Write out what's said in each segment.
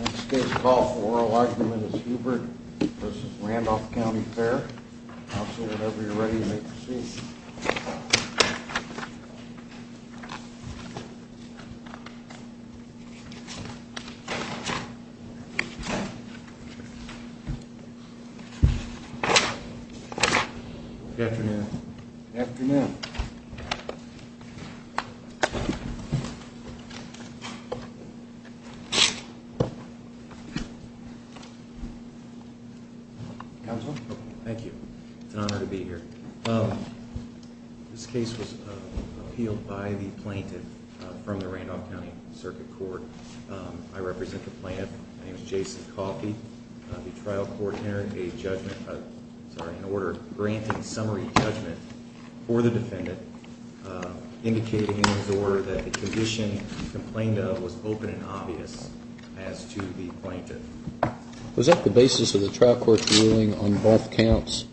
Next case to call for oral argument is Hubert v. Randolph County Fair. Officer, whenever you're ready, make your seat. Good afternoon. Good afternoon. Counsel? It's an honor to be here. This case was appealed by the plaintiff from the Randolph County Circuit Court. I represent the plaintiff. His name is Jason Coffey. The trial court entered an order granting summary judgment for the defendant, indicating in his order that the condition he complained of was open and obvious as to the plaintiff. Was that the basis of the trial court's ruling on both counts?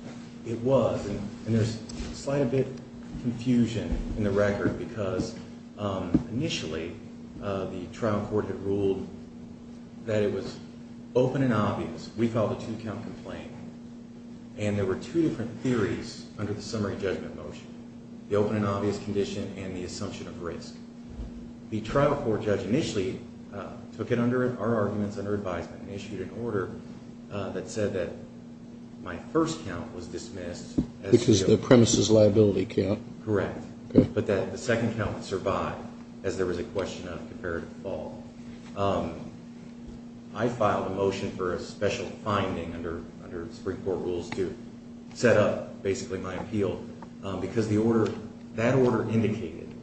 It was. And there's a slight bit of confusion in the record because initially the trial court had ruled that it was open and obvious. We filed a two-count complaint. And there were two different theories under the summary judgment motion. The open and obvious condition and the assumption of risk. The trial court judge initially took it under our arguments under advisement and issued an order that said that my first count was dismissed. Which is the premise's liability count. Correct. But that the second count would survive as there was a question of comparative fall. I filed a motion for a special finding under the Supreme Court rules to set up basically my appeal because that order indicated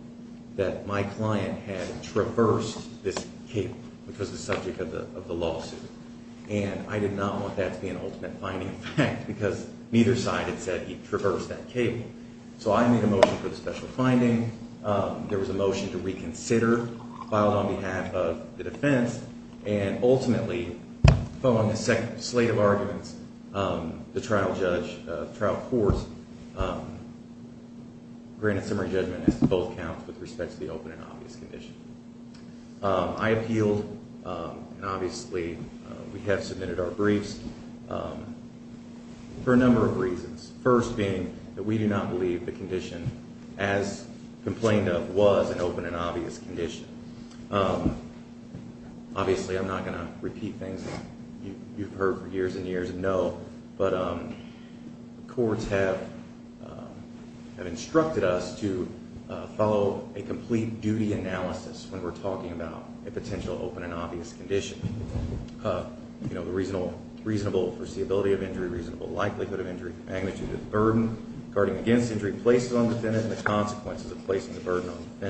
that my client had traversed this cable, which was the subject of the lawsuit. And I did not want that to be an ultimate finding, in fact, because neither side had said he'd traversed that cable. So I made a motion for the special finding. There was a motion to reconsider filed on behalf of the defense. And ultimately, following a slate of arguments, the trial court granted summary judgment as to both counts with respect to the open and obvious condition. I appealed, and obviously we have submitted our briefs, for a number of reasons. First being that we do not believe the condition as complained of was an open and obvious condition. Obviously, I'm not going to repeat things you've heard for years and years of no. But courts have instructed us to follow a complete duty analysis when we're talking about a potential open and obvious condition. You know, the reasonable foreseeability of injury, reasonable likelihood of injury, magnitude of the burden, guarding against injury, places on the defendant, and the consequences of placing the burden on the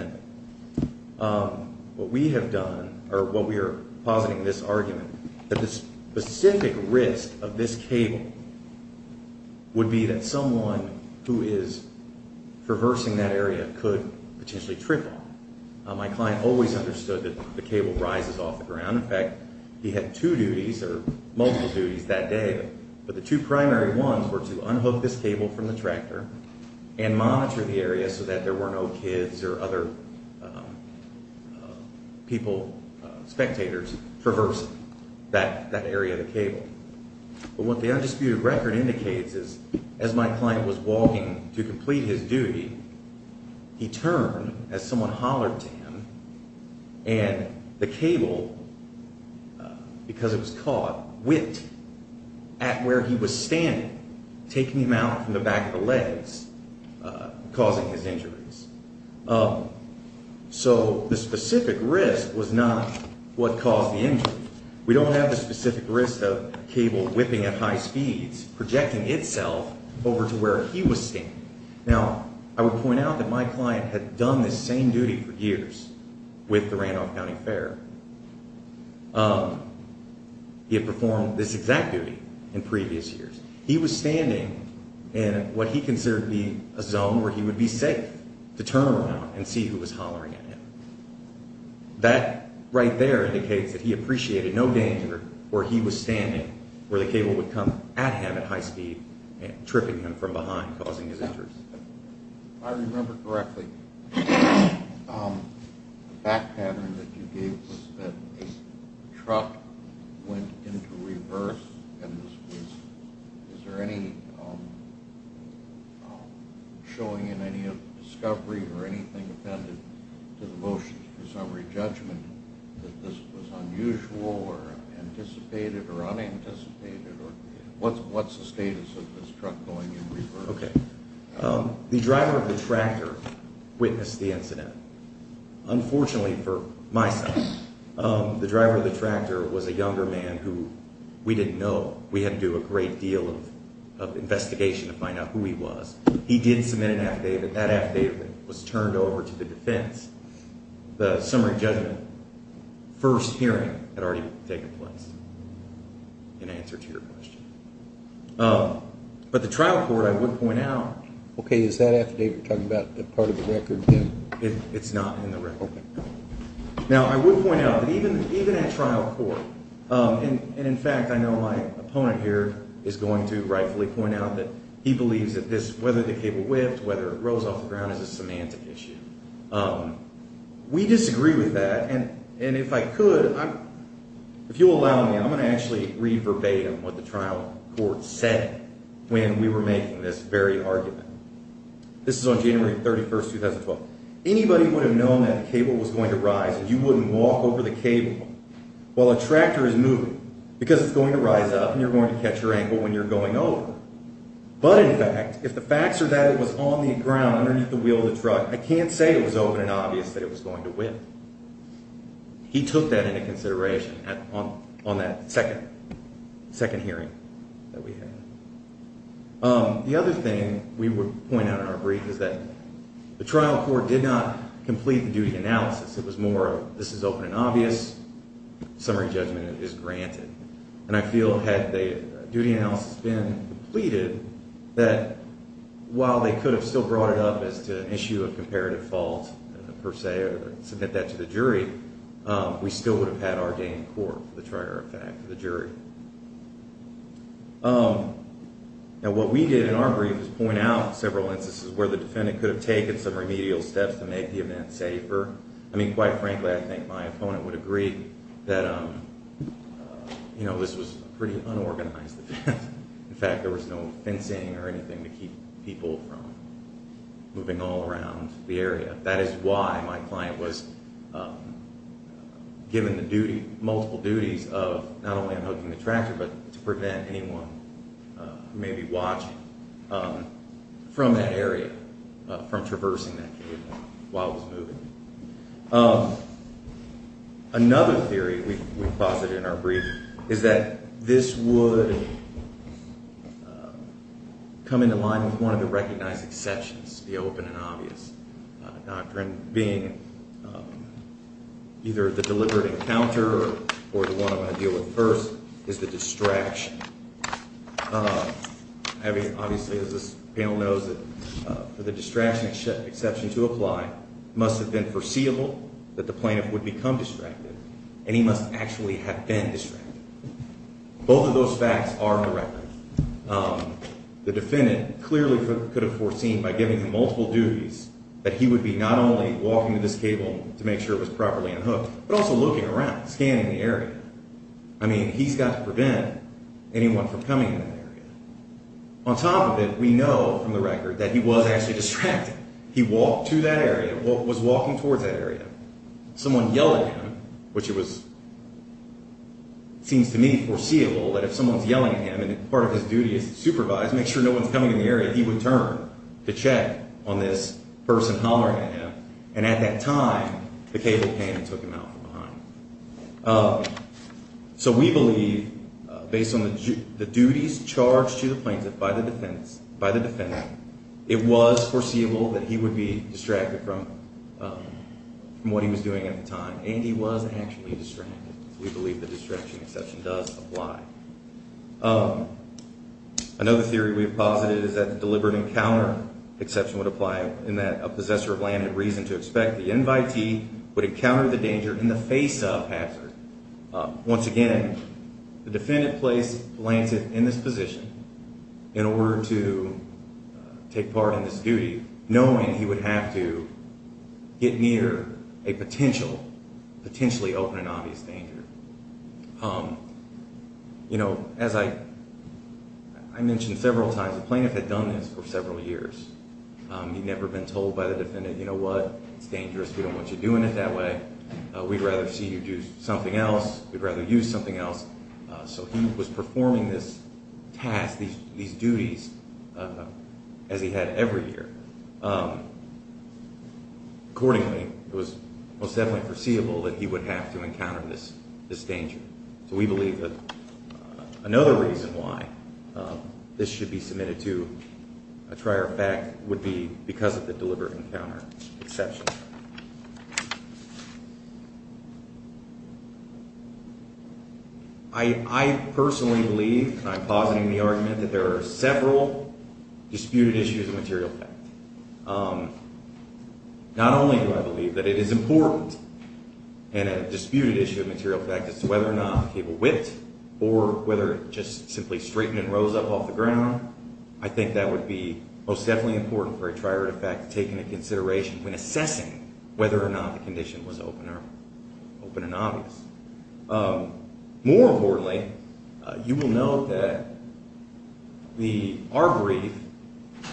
defendant. What we have done, or what we are positing in this argument, that the specific risk of this cable would be that someone who is traversing that area could potentially trickle. My client always understood that the cable rises off the ground. In fact, he had two duties, or multiple duties, that day. But the two primary ones were to unhook this cable from the tractor and monitor the area so that there were no kids or other people, spectators, traversing that area of the cable. But what the undisputed record indicates is, as my client was walking to complete his duty, he turned as someone hollered to him, and the cable, because it was caught, whipped at where he was standing, taking him out from the back of the legs, causing his injuries. So the specific risk was not what caused the injury. We don't have the specific risk of cable whipping at high speeds projecting itself over to where he was standing. Now, I would point out that my client had done this same duty for years with the Randolph County Fair. He had performed this exact duty in previous years. He was standing in what he considered to be a zone where he would be safe to turn around and see who was hollering at him. That right there indicates that he appreciated no danger where he was standing, where the cable would come at him at high speed, tripping him from behind, causing his injuries. If I remember correctly, the fact pattern that you gave was that the truck went into reverse. And is there any showing in any of the discovery or anything appended to the motion for summary judgment that this was unusual or anticipated or unanticipated? What's the status of this truck going in reverse? Okay. The driver of the tractor witnessed the incident. Unfortunately for my son, the driver of the tractor was a younger man who we didn't know. We had to do a great deal of investigation to find out who he was. He did submit an affidavit. That affidavit was turned over to the defense. The summary judgment first hearing had already taken place in answer to your question. But the trial court, I would point out... Okay. Is that affidavit talking about the part of the record? It's not in the record. Okay. Now, I would point out that even at trial court, and in fact, I know my opponent here is going to rightfully point out that he believes that this, whether the cable whipped, whether it rose off the ground, is a semantic issue. We disagree with that. And if I could, if you'll allow me, I'm going to actually read verbatim what the trial court said when we were making this very argument. This is on January 31, 2012. Anybody would have known that the cable was going to rise and you wouldn't walk over the cable while a tractor is moving because it's going to rise up and you're going to catch your ankle when you're going over. But in fact, if the facts are that it was on the ground underneath the wheel of the truck, I can't say it was open and obvious that it was going to whip. He took that into consideration on that second hearing that we had. The other thing we would point out in our brief is that the trial court did not complete the duty analysis. It was more of this is open and obvious, summary judgment is granted. And I feel had the duty analysis been completed, that while they could have still brought it up as to an issue of comparative fault per se or submit that to the jury, we still would have had our gain in court for the trigger effect for the jury. Now what we did in our brief is point out several instances where the defendant could have taken some remedial steps to make the event safer. I mean, quite frankly, I think my opponent would agree that this was a pretty unorganized event. In fact, there was no fencing or anything to keep people from moving all around the area. That is why my client was given the duty, multiple duties of not only unhooking the tractor, but to prevent anyone who may be watching from that area from traversing that cable while it was moving. Another theory we posited in our brief is that this would come into line with one of the recognized exceptions, the open and obvious. And being either the deliberate encounter or the one I'm going to deal with first is the distraction. Obviously, as this panel knows, for the distraction exception to apply, it must have been foreseeable that the plaintiff would become distracted, and he must actually have been distracted. The defendant clearly could have foreseen by giving him multiple duties that he would be not only walking to this cable to make sure it was properly unhooked, but also looking around, scanning the area. I mean, he's got to prevent anyone from coming in that area. On top of it, we know from the record that he was actually distracted. He walked to that area, was walking towards that area. Someone yelled at him, which seems to me foreseeable, that if someone's yelling at him and part of his duty is to supervise, make sure no one's coming in the area, he would turn to check on this person hollering at him. And at that time, the cable came and took him out from behind. So we believe, based on the duties charged to the plaintiff by the defendant, it was foreseeable that he would be distracted from what he was doing at the time. And he was actually distracted. So we believe the distraction exception does apply. Another theory we've posited is that the deliberate encounter exception would apply, in that a possessor of land and reason to expect the invitee would encounter the danger in the face of hazard. Once again, the defendant placed Lancet in this position in order to take part in this duty, knowing he would have to get near a potential, potentially open and obvious danger. As I mentioned several times, the plaintiff had done this for several years. He'd never been told by the defendant, you know what, it's dangerous, we don't want you doing it that way. We'd rather see you do something else, we'd rather you do something else. So he was performing this task, these duties, as he had every year. Accordingly, it was most definitely foreseeable that he would have to encounter this danger. So we believe that another reason why this should be submitted to a trier of fact would be because of the deliberate encounter exception. I personally believe, and I'm positing the argument, that there are several disputed issues of material fact. Not only do I believe that it is important in a disputed issue of material fact as to whether or not the cable whipped or whether it just simply straightened and rose up off the ground, I think that would be most definitely important for a trier of fact to take into consideration when assessing whether or not the condition was open and obvious. More importantly, you will note that our brief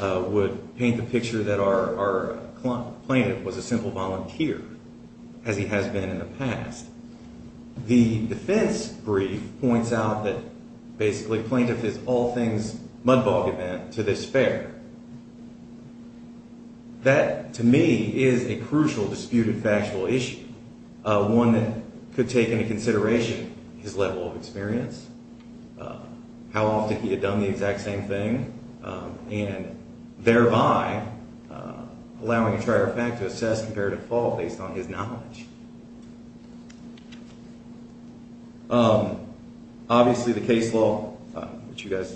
would paint the picture that our plaintiff was a simple volunteer, as he has been in the past. The defense brief points out that basically plaintiff is all things mud bog event to this fair. That, to me, is a crucial disputed factual issue. One that could take into consideration his level of experience, how often he had done the exact same thing, and thereby allowing a trier of fact to assess comparative fault based on his knowledge. Obviously, the case law, which you guys,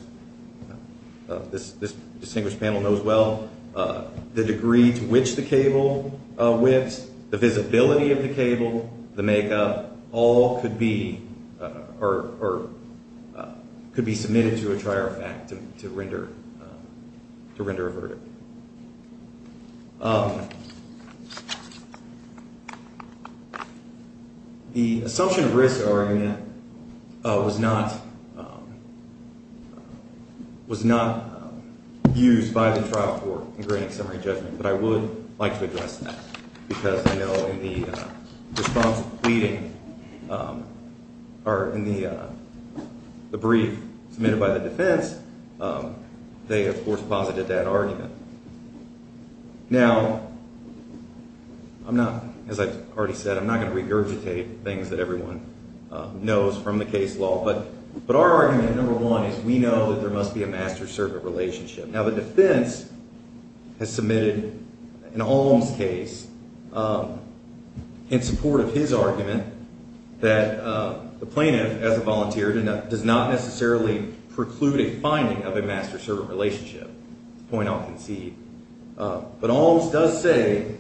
this distinguished panel knows well, the degree to which the cable whips, the visibility of the cable, the makeup, all could be submitted to a trier of fact to render a verdict. The assumption of risk argument was not used by the trial court in granting summary judgment, but I would like to address that because I know in the response pleading or in the brief submitted by the defense, they, of course, posited that argument. Now, as I've already said, I'm not going to regurgitate things that everyone knows from the case law, but our argument, number one, is we know that there must be a master-servant relationship. Now, the defense has submitted an alms case in support of his argument that the plaintiff, as a volunteer, does not necessarily preclude a finding of a master-servant relationship. The point I'll concede. But alms does say,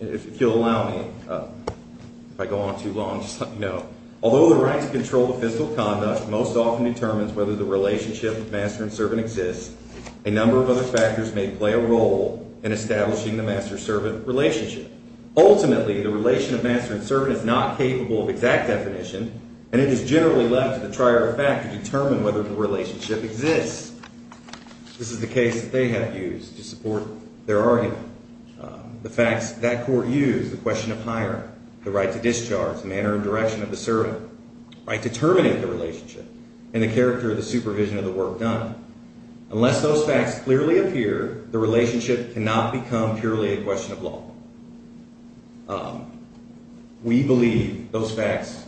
if you'll allow me, if I go on too long, just let you know, although the right to control the physical conduct most often determines whether the relationship of master and servant exists, a number of other factors may play a role in establishing the master-servant relationship. Ultimately, the relation of master and servant is not capable of exact definition, and it is generally left to the trier of fact to determine whether the relationship exists. This is the case that they have used to support their argument. The facts that court used, the question of hiring, the right to discharge, manner and direction of the servant, right to terminate the relationship, and the character of the supervision of the work done. Unless those facts clearly appear, the relationship cannot become purely a question of law. We believe those facts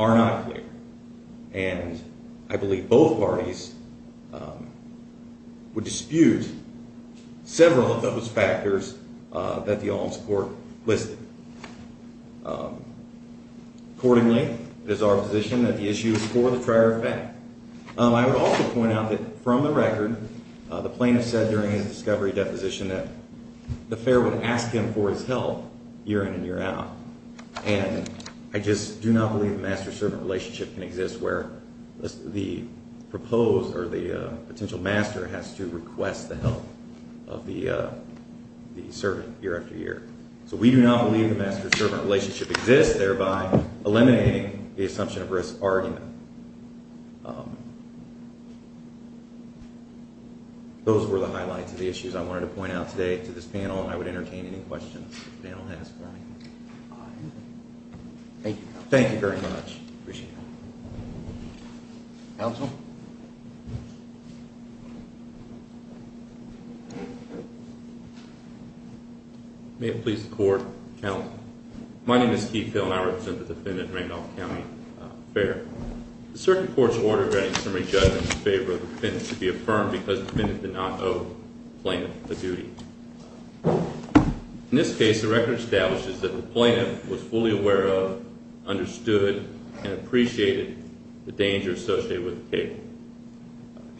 are not clear. And I believe both parties would dispute several of those factors that the alms court listed. Accordingly, it is our position that the issue is for the trier of fact. I would also point out that, from the record, the plaintiff said during his discovery deposition that the fair would ask him for his help year in and year out. And I just do not believe the master-servant relationship can exist where the proposed or the potential master has to request the help of the servant year after year. So we do not believe the master-servant relationship exists, thereby eliminating the assumption of risk argument. Those were the highlights of the issues I wanted to point out today to this panel. I would entertain any questions the panel has for me. Thank you very much. Appreciate it. Counsel? May it please the Court. Counsel. My name is Keith Hill, and I represent the defendant in Randolph County Fair. The circuit court's order granting summary judgment in favor of the defendant to be affirmed because the defendant did not owe the plaintiff a duty. In this case, the record establishes that the plaintiff was fully aware of, understood, and appreciated the danger associated with the table.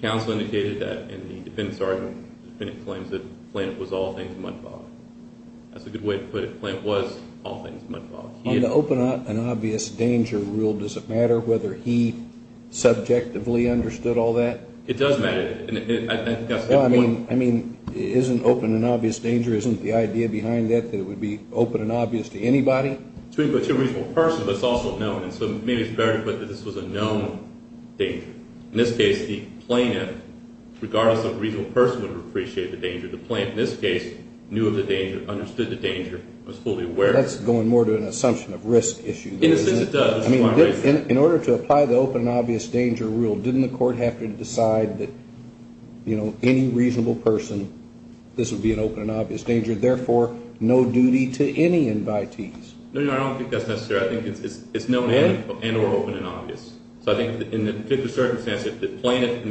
Counsel indicated that in the defendant's argument, the defendant claims that the plaintiff was all things much above. That's a good way to put it. The plaintiff was all things much above. On the open and obvious danger rule, does it matter whether he subjectively understood all that? It does matter. Well, I mean, it isn't open and obvious danger. Isn't the idea behind that that it would be open and obvious to anybody? To a reasonable person, but it's also known. And so maybe it's better to put that this was a known danger. In this case, the plaintiff, regardless of a reasonable person, would have appreciated the danger. The plaintiff, in this case, knew of the danger, understood the danger, was fully aware. That's going more to an assumption of risk issue. In this case, it does. I mean, in order to apply the open and obvious danger rule, didn't the court have to decide that any reasonable person, this would be an open and obvious danger, therefore no duty to any invitees? No, Your Honor, I don't think that's necessary. I think it's known and or open and obvious. So I think in that particular circumstance, if the plaintiff in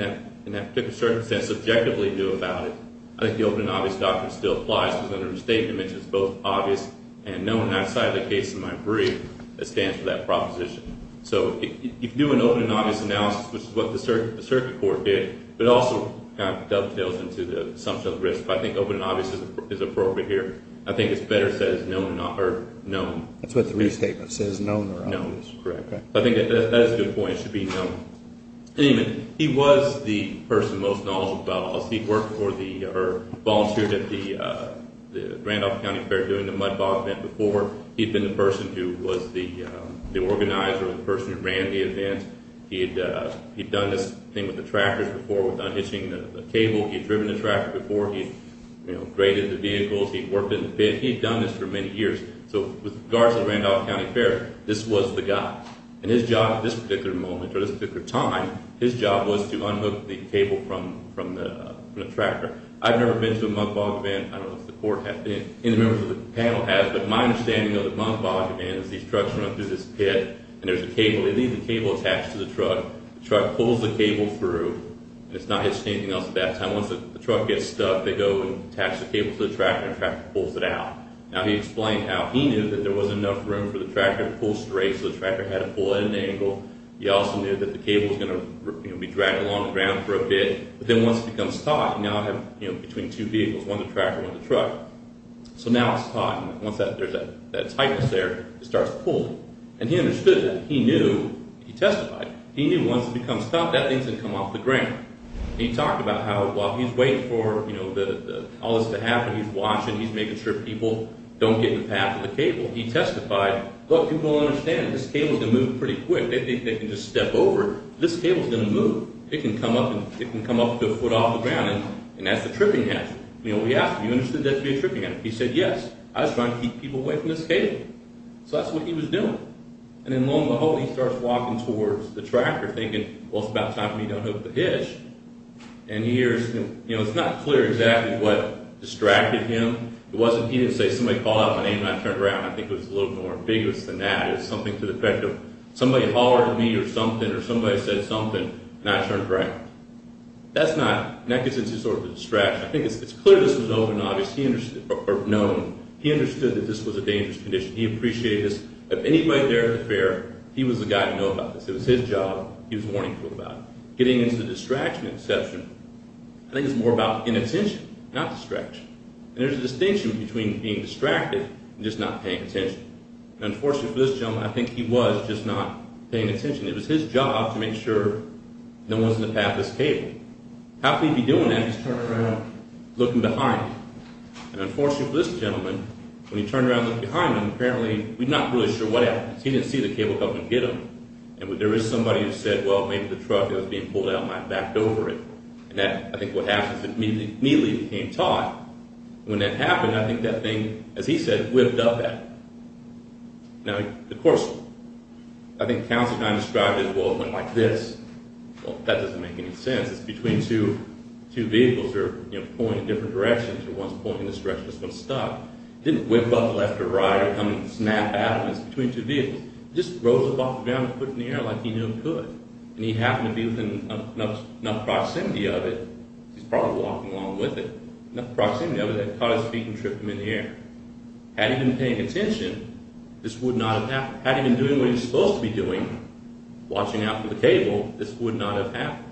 that particular circumstance subjectively knew about it, I think the open and obvious doctrine still applies because under the restatement, it's both obvious and known outside of the case in my brief that stands for that proposition. So if you do an open and obvious analysis, which is what the circuit court did, but also kind of dovetails into the assumption of risk, I think open and obvious is appropriate here. I think it's better said as known. That's what the restatement says, known or obvious. Known, correct. I think that's a good point. It should be known. Anyway, he was the person most knowledgeable about all this. He worked for the or volunteered at the Randolph County Fair doing the mud bog event before. He'd been the person who was the organizer or the person who ran the event. He'd done this thing with the tractors before. He'd done hitching the cable. He'd driven the tractor before. He'd graded the vehicles. He'd worked in the pit. He'd done this for many years. So with regards to the Randolph County Fair, this was the guy. And his job at this particular moment or this particular time, his job was to unhook the cable from the tractor. I've never been to a mud bog event. I don't know if the court has been, any members of the panel has, but my understanding of the mud bog event is these trucks run up through this pit, and there's a cable. They leave the cable attached to the truck. The truck pulls the cable through, and it's not hitched to anything else at that time. Once the truck gets stuck, they go and attach the cable to the tractor, and the tractor pulls it out. Now, he explained how he knew that there wasn't enough room for the tractor to pull straight, so the tractor had to pull at an angle. He also knew that the cable was going to be dragged along the ground for a bit. But then once it becomes taut, now I have between two vehicles, one the tractor, one the truck. So now it's taut. Once there's that tightness there, it starts pulling. And he understood that. He knew. He testified. He knew once it becomes taut, that thing's going to come off the ground. He talked about how while he's waiting for all this to happen, he's watching, he's making sure people don't get in the path of the cable. He testified, look, people don't understand. This cable's going to move pretty quick. They think they can just step over it. This cable's going to move. It can come up to a foot off the ground, and that's the tripping edge. We asked him, you understood that to be a tripping edge? He said, yes. I was trying to keep people away from this cable. So that's what he was doing. And then lo and behold, he starts walking towards the tractor, thinking, well, it's about time we don't hook the hitch. And he hears, it's not clear exactly what distracted him. It wasn't, he didn't say, somebody called out my name, and I turned around. I think it was a little more ambiguous than that. It was something to the effect of, somebody hollered at me or something or somebody said something, and I turned around. That's not, that gets into sort of the distraction. I think it's clear this was an open obvious. He understood, or known, he understood that this was a dangerous condition. He appreciated this. If anybody there at the fair, he was the guy to know about this. It was his job. He was warning people about it. Getting into the distraction and deception, I think it's more about inattention, not distraction. And there's a distinction between being distracted and just not paying attention. And unfortunately for this gentleman, I think he was just not paying attention. It was his job to make sure no one's in the path of this cable. How could he be doing that? He's turning around, looking behind him. And unfortunately for this gentleman, when he turned around and looked behind him, apparently, we're not really sure what happened. He didn't see the cable coming to get him. And there is somebody who said, well, maybe the truck that was being pulled out might have backed over it. And I think what happens is he immediately became taut. And when that happened, I think that thing, as he said, whipped up at him. Now, of course, I think Councilman Kine described it as, well, it went like this. Well, that doesn't make any sense. It's between two vehicles. They're pulling in different directions. One's pulling in this direction. This one's stopped. It didn't whip up left or right or come and snap out of it. It's between two vehicles. It just rose up off the ground and put it in the air like he knew it could. And he happened to be within enough proximity of it, he's probably walking along with it, enough proximity of it that it caught his feet and tripped him in the air. Had he been paying attention, this would not have happened. Had he been doing what he was supposed to be doing, watching out for the cable, this would not have happened.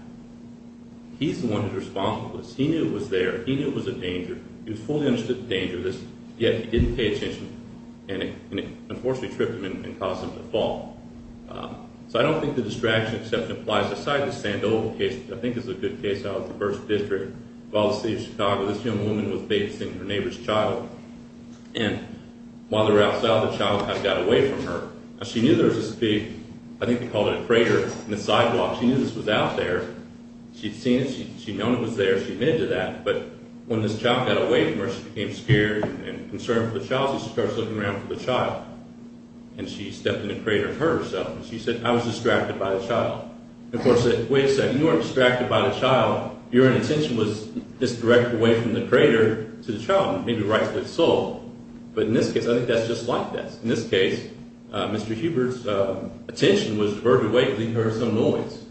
He's the one who's responsible for this. He knew it was there. He knew it was a danger. He was fully understood the danger of this. Yet he didn't pay attention, and it unfortunately tripped him and caused him to fall. So I don't think the distraction except applies aside to the Sandoval case, which I think is a good case out of the 1st District, of all the cities of Chicago. This young woman was facing her neighbor's child. And while they were outside, the child kind of got away from her. She knew there was this big, I think they called it a crater, in the sidewalk. She knew this was out there. She'd seen it. She'd known it was there. She admitted to that. But when this child got away from her, she became scared and concerned for the child. So she starts looking around for the child. And she stepped in the crater and hurt herself. She said, I was distracted by the child. Of course, wait a second. You weren't distracted by the child. Your attention was just directed away from the crater to the child, maybe right to the soul. But in this case, I think that's just like this. In this case, Mr. Hubert's attention was diverted away because he heard some noise.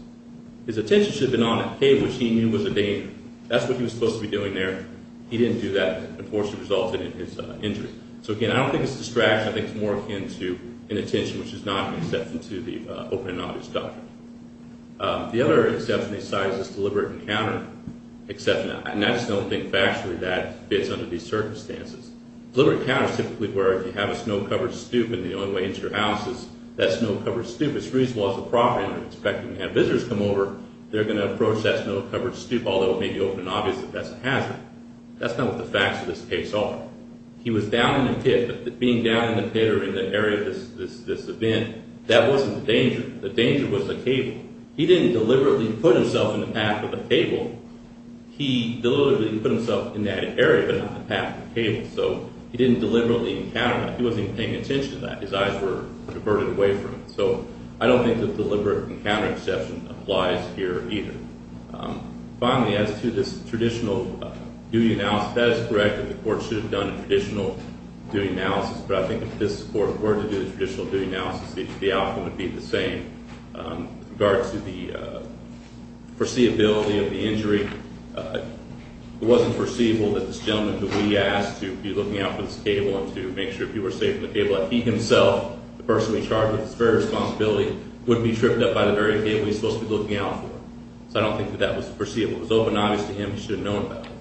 His attention should have been on a cave, which he knew was a danger. That's what he was supposed to be doing there. He didn't do that. Unfortunately, it resulted in his injury. So, again, I don't think it's distraction. I think it's more akin to inattention, which is not an exception to the open and obvious doctrine. The other exception they cite is deliberate encounter exception. And I just don't think factually that fits under these circumstances. Deliberate encounter is typically where if you have a snow-covered stoop and the only way into your house is that snow-covered stoop, it's reasonable as a property owner. In fact, when you have visitors come over, they're going to approach that snow-covered stoop, although it may be open and obvious that that's a hazard. That's not what the facts of this case are. He was down in the pit, but being down in the pit or in the area of this event, that wasn't the danger. The danger was the cable. He didn't deliberately put himself in the path of the cable. He deliberately put himself in that area, but not the path of the cable. So he didn't deliberately encounter that. He wasn't even paying attention to that. His eyes were converted away from it. So I don't think that deliberate encounter exception applies here either. Finally, as to this traditional duty analysis, that is correct that the court should have done a traditional duty analysis, but I think if this court were to do the traditional duty analysis, the outcome would be the same. With regard to the foreseeability of the injury, it wasn't foreseeable that this gentleman who we asked to be looking out for this cable and to make sure people were safe from the cable, that he himself, the person we charged with this very responsibility, wouldn't be tripped up by the very cable he was supposed to be looking out for. So I don't think that that was foreseeable. It was open and obvious to him he should have known about it.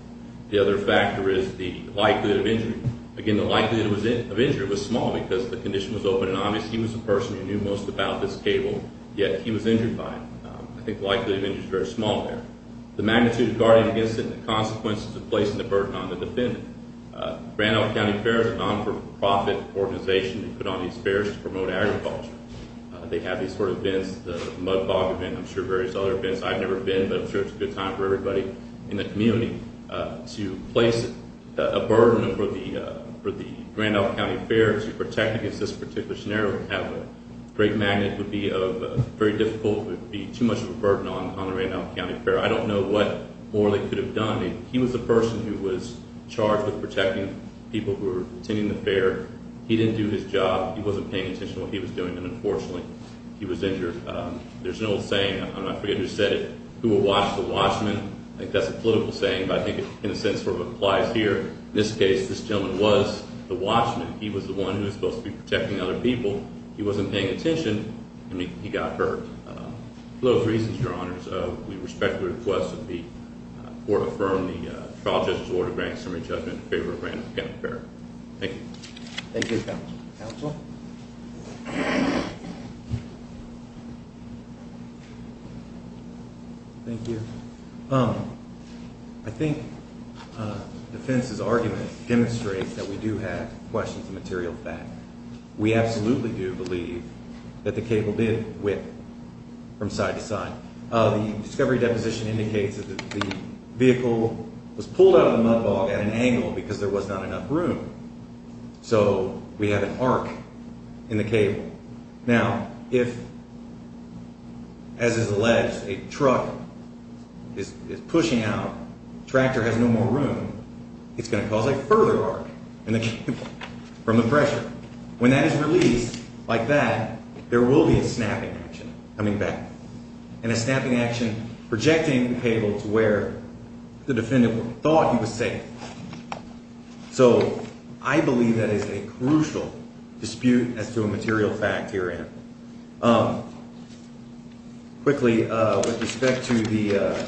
The other factor is the likelihood of injury. Again, the likelihood of injury was small because the condition was open and obvious. He was the person who knew most about this cable, yet he was injured by it. I think the likelihood of injury is very small there. The magnitude of guarding against it and the consequences of placing the burden on the defendant. Grand Isle County Fair is a non-for-profit organization that put on these fairs to promote agriculture. They have these sort of events, the mud bog event, I'm sure various other events. I've never been, but I'm sure it's a good time for everybody in the community to place a burden over the Grand Isle County Fair to protect against this particular scenario. To have a great magnet would be very difficult. It would be too much of a burden on the Grand Isle County Fair. I don't know what more they could have done. He was the person who was charged with protecting people who were attending the fair. He didn't do his job. He wasn't paying attention to what he was doing, and unfortunately he was injured. There's an old saying, I forget who said it, who will watch the watchman. I think that's a political saying, but I think it in a sense sort of applies here. In this case, this gentleman was the watchman. He was the one who was supposed to be protecting other people. He wasn't paying attention, and he got hurt. For those reasons, Your Honors, we respectfully request that the court affirm the trial judge's order to grant summary judgment in favor of Grand Isle County Fair. Thank you. Thank you, Counsel. Thank you. I think defense's argument demonstrates that we do have questions of material fact. We absolutely do believe that the cable did whip from side to side. The discovery deposition indicates that the vehicle was pulled out of the mud bog at an angle because there was not enough room, so we have an arc in the cable. Now, if, as is alleged, a truck is pushing out, tractor has no more room, it's going to cause a further arc in the cable from the pressure. When that is released like that, there will be a snapping action coming back, and a snapping action projecting the cable to where the defendant thought he was safe. So I believe that is a crucial dispute as to a material fact herein. Quickly, with respect to the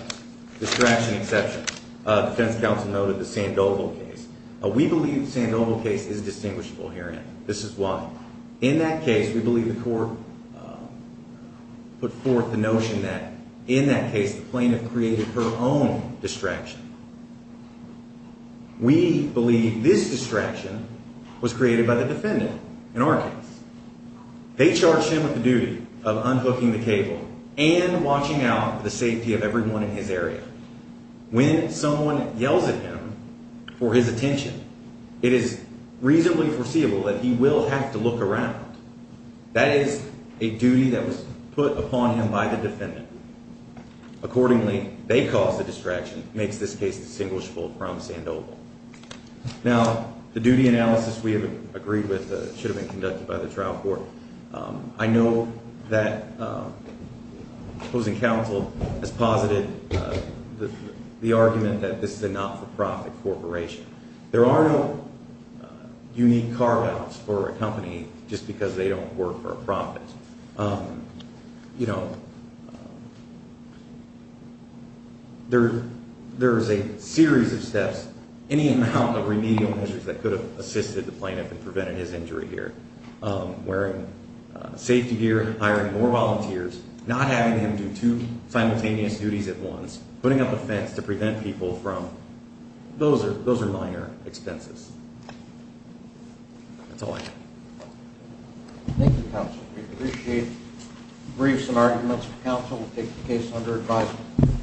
distraction exception, defense counsel noted the Sandoval case. We believe the Sandoval case is distinguishable herein. This is why. In that case, we believe the court put forth the notion that, in that case, the plaintiff created her own distraction. We believe this distraction was created by the defendant in our case. They charged him with the duty of unhooking the cable and watching out for the safety of everyone in his area. When someone yells at him for his attention, it is reasonably foreseeable that he will have to look around. That is a duty that was put upon him by the defendant. Accordingly, they caused the distraction, which makes this case distinguishable from Sandoval. Now, the duty analysis we have agreed with should have been conducted by the trial court. I know that opposing counsel has posited the argument that this is a not-for-profit corporation. There are no unique carve-outs for a company just because they don't work for a profit. There is a series of steps, any amount of remedial measures that could have assisted the plaintiff in preventing his injury here. Wearing safety gear, hiring more volunteers, not having him do two simultaneous duties at once, putting up a fence to prevent people from... Those are minor expenses. That's all I have. Thank you, counsel. We appreciate briefs and arguments. Counsel will take the case under advisement.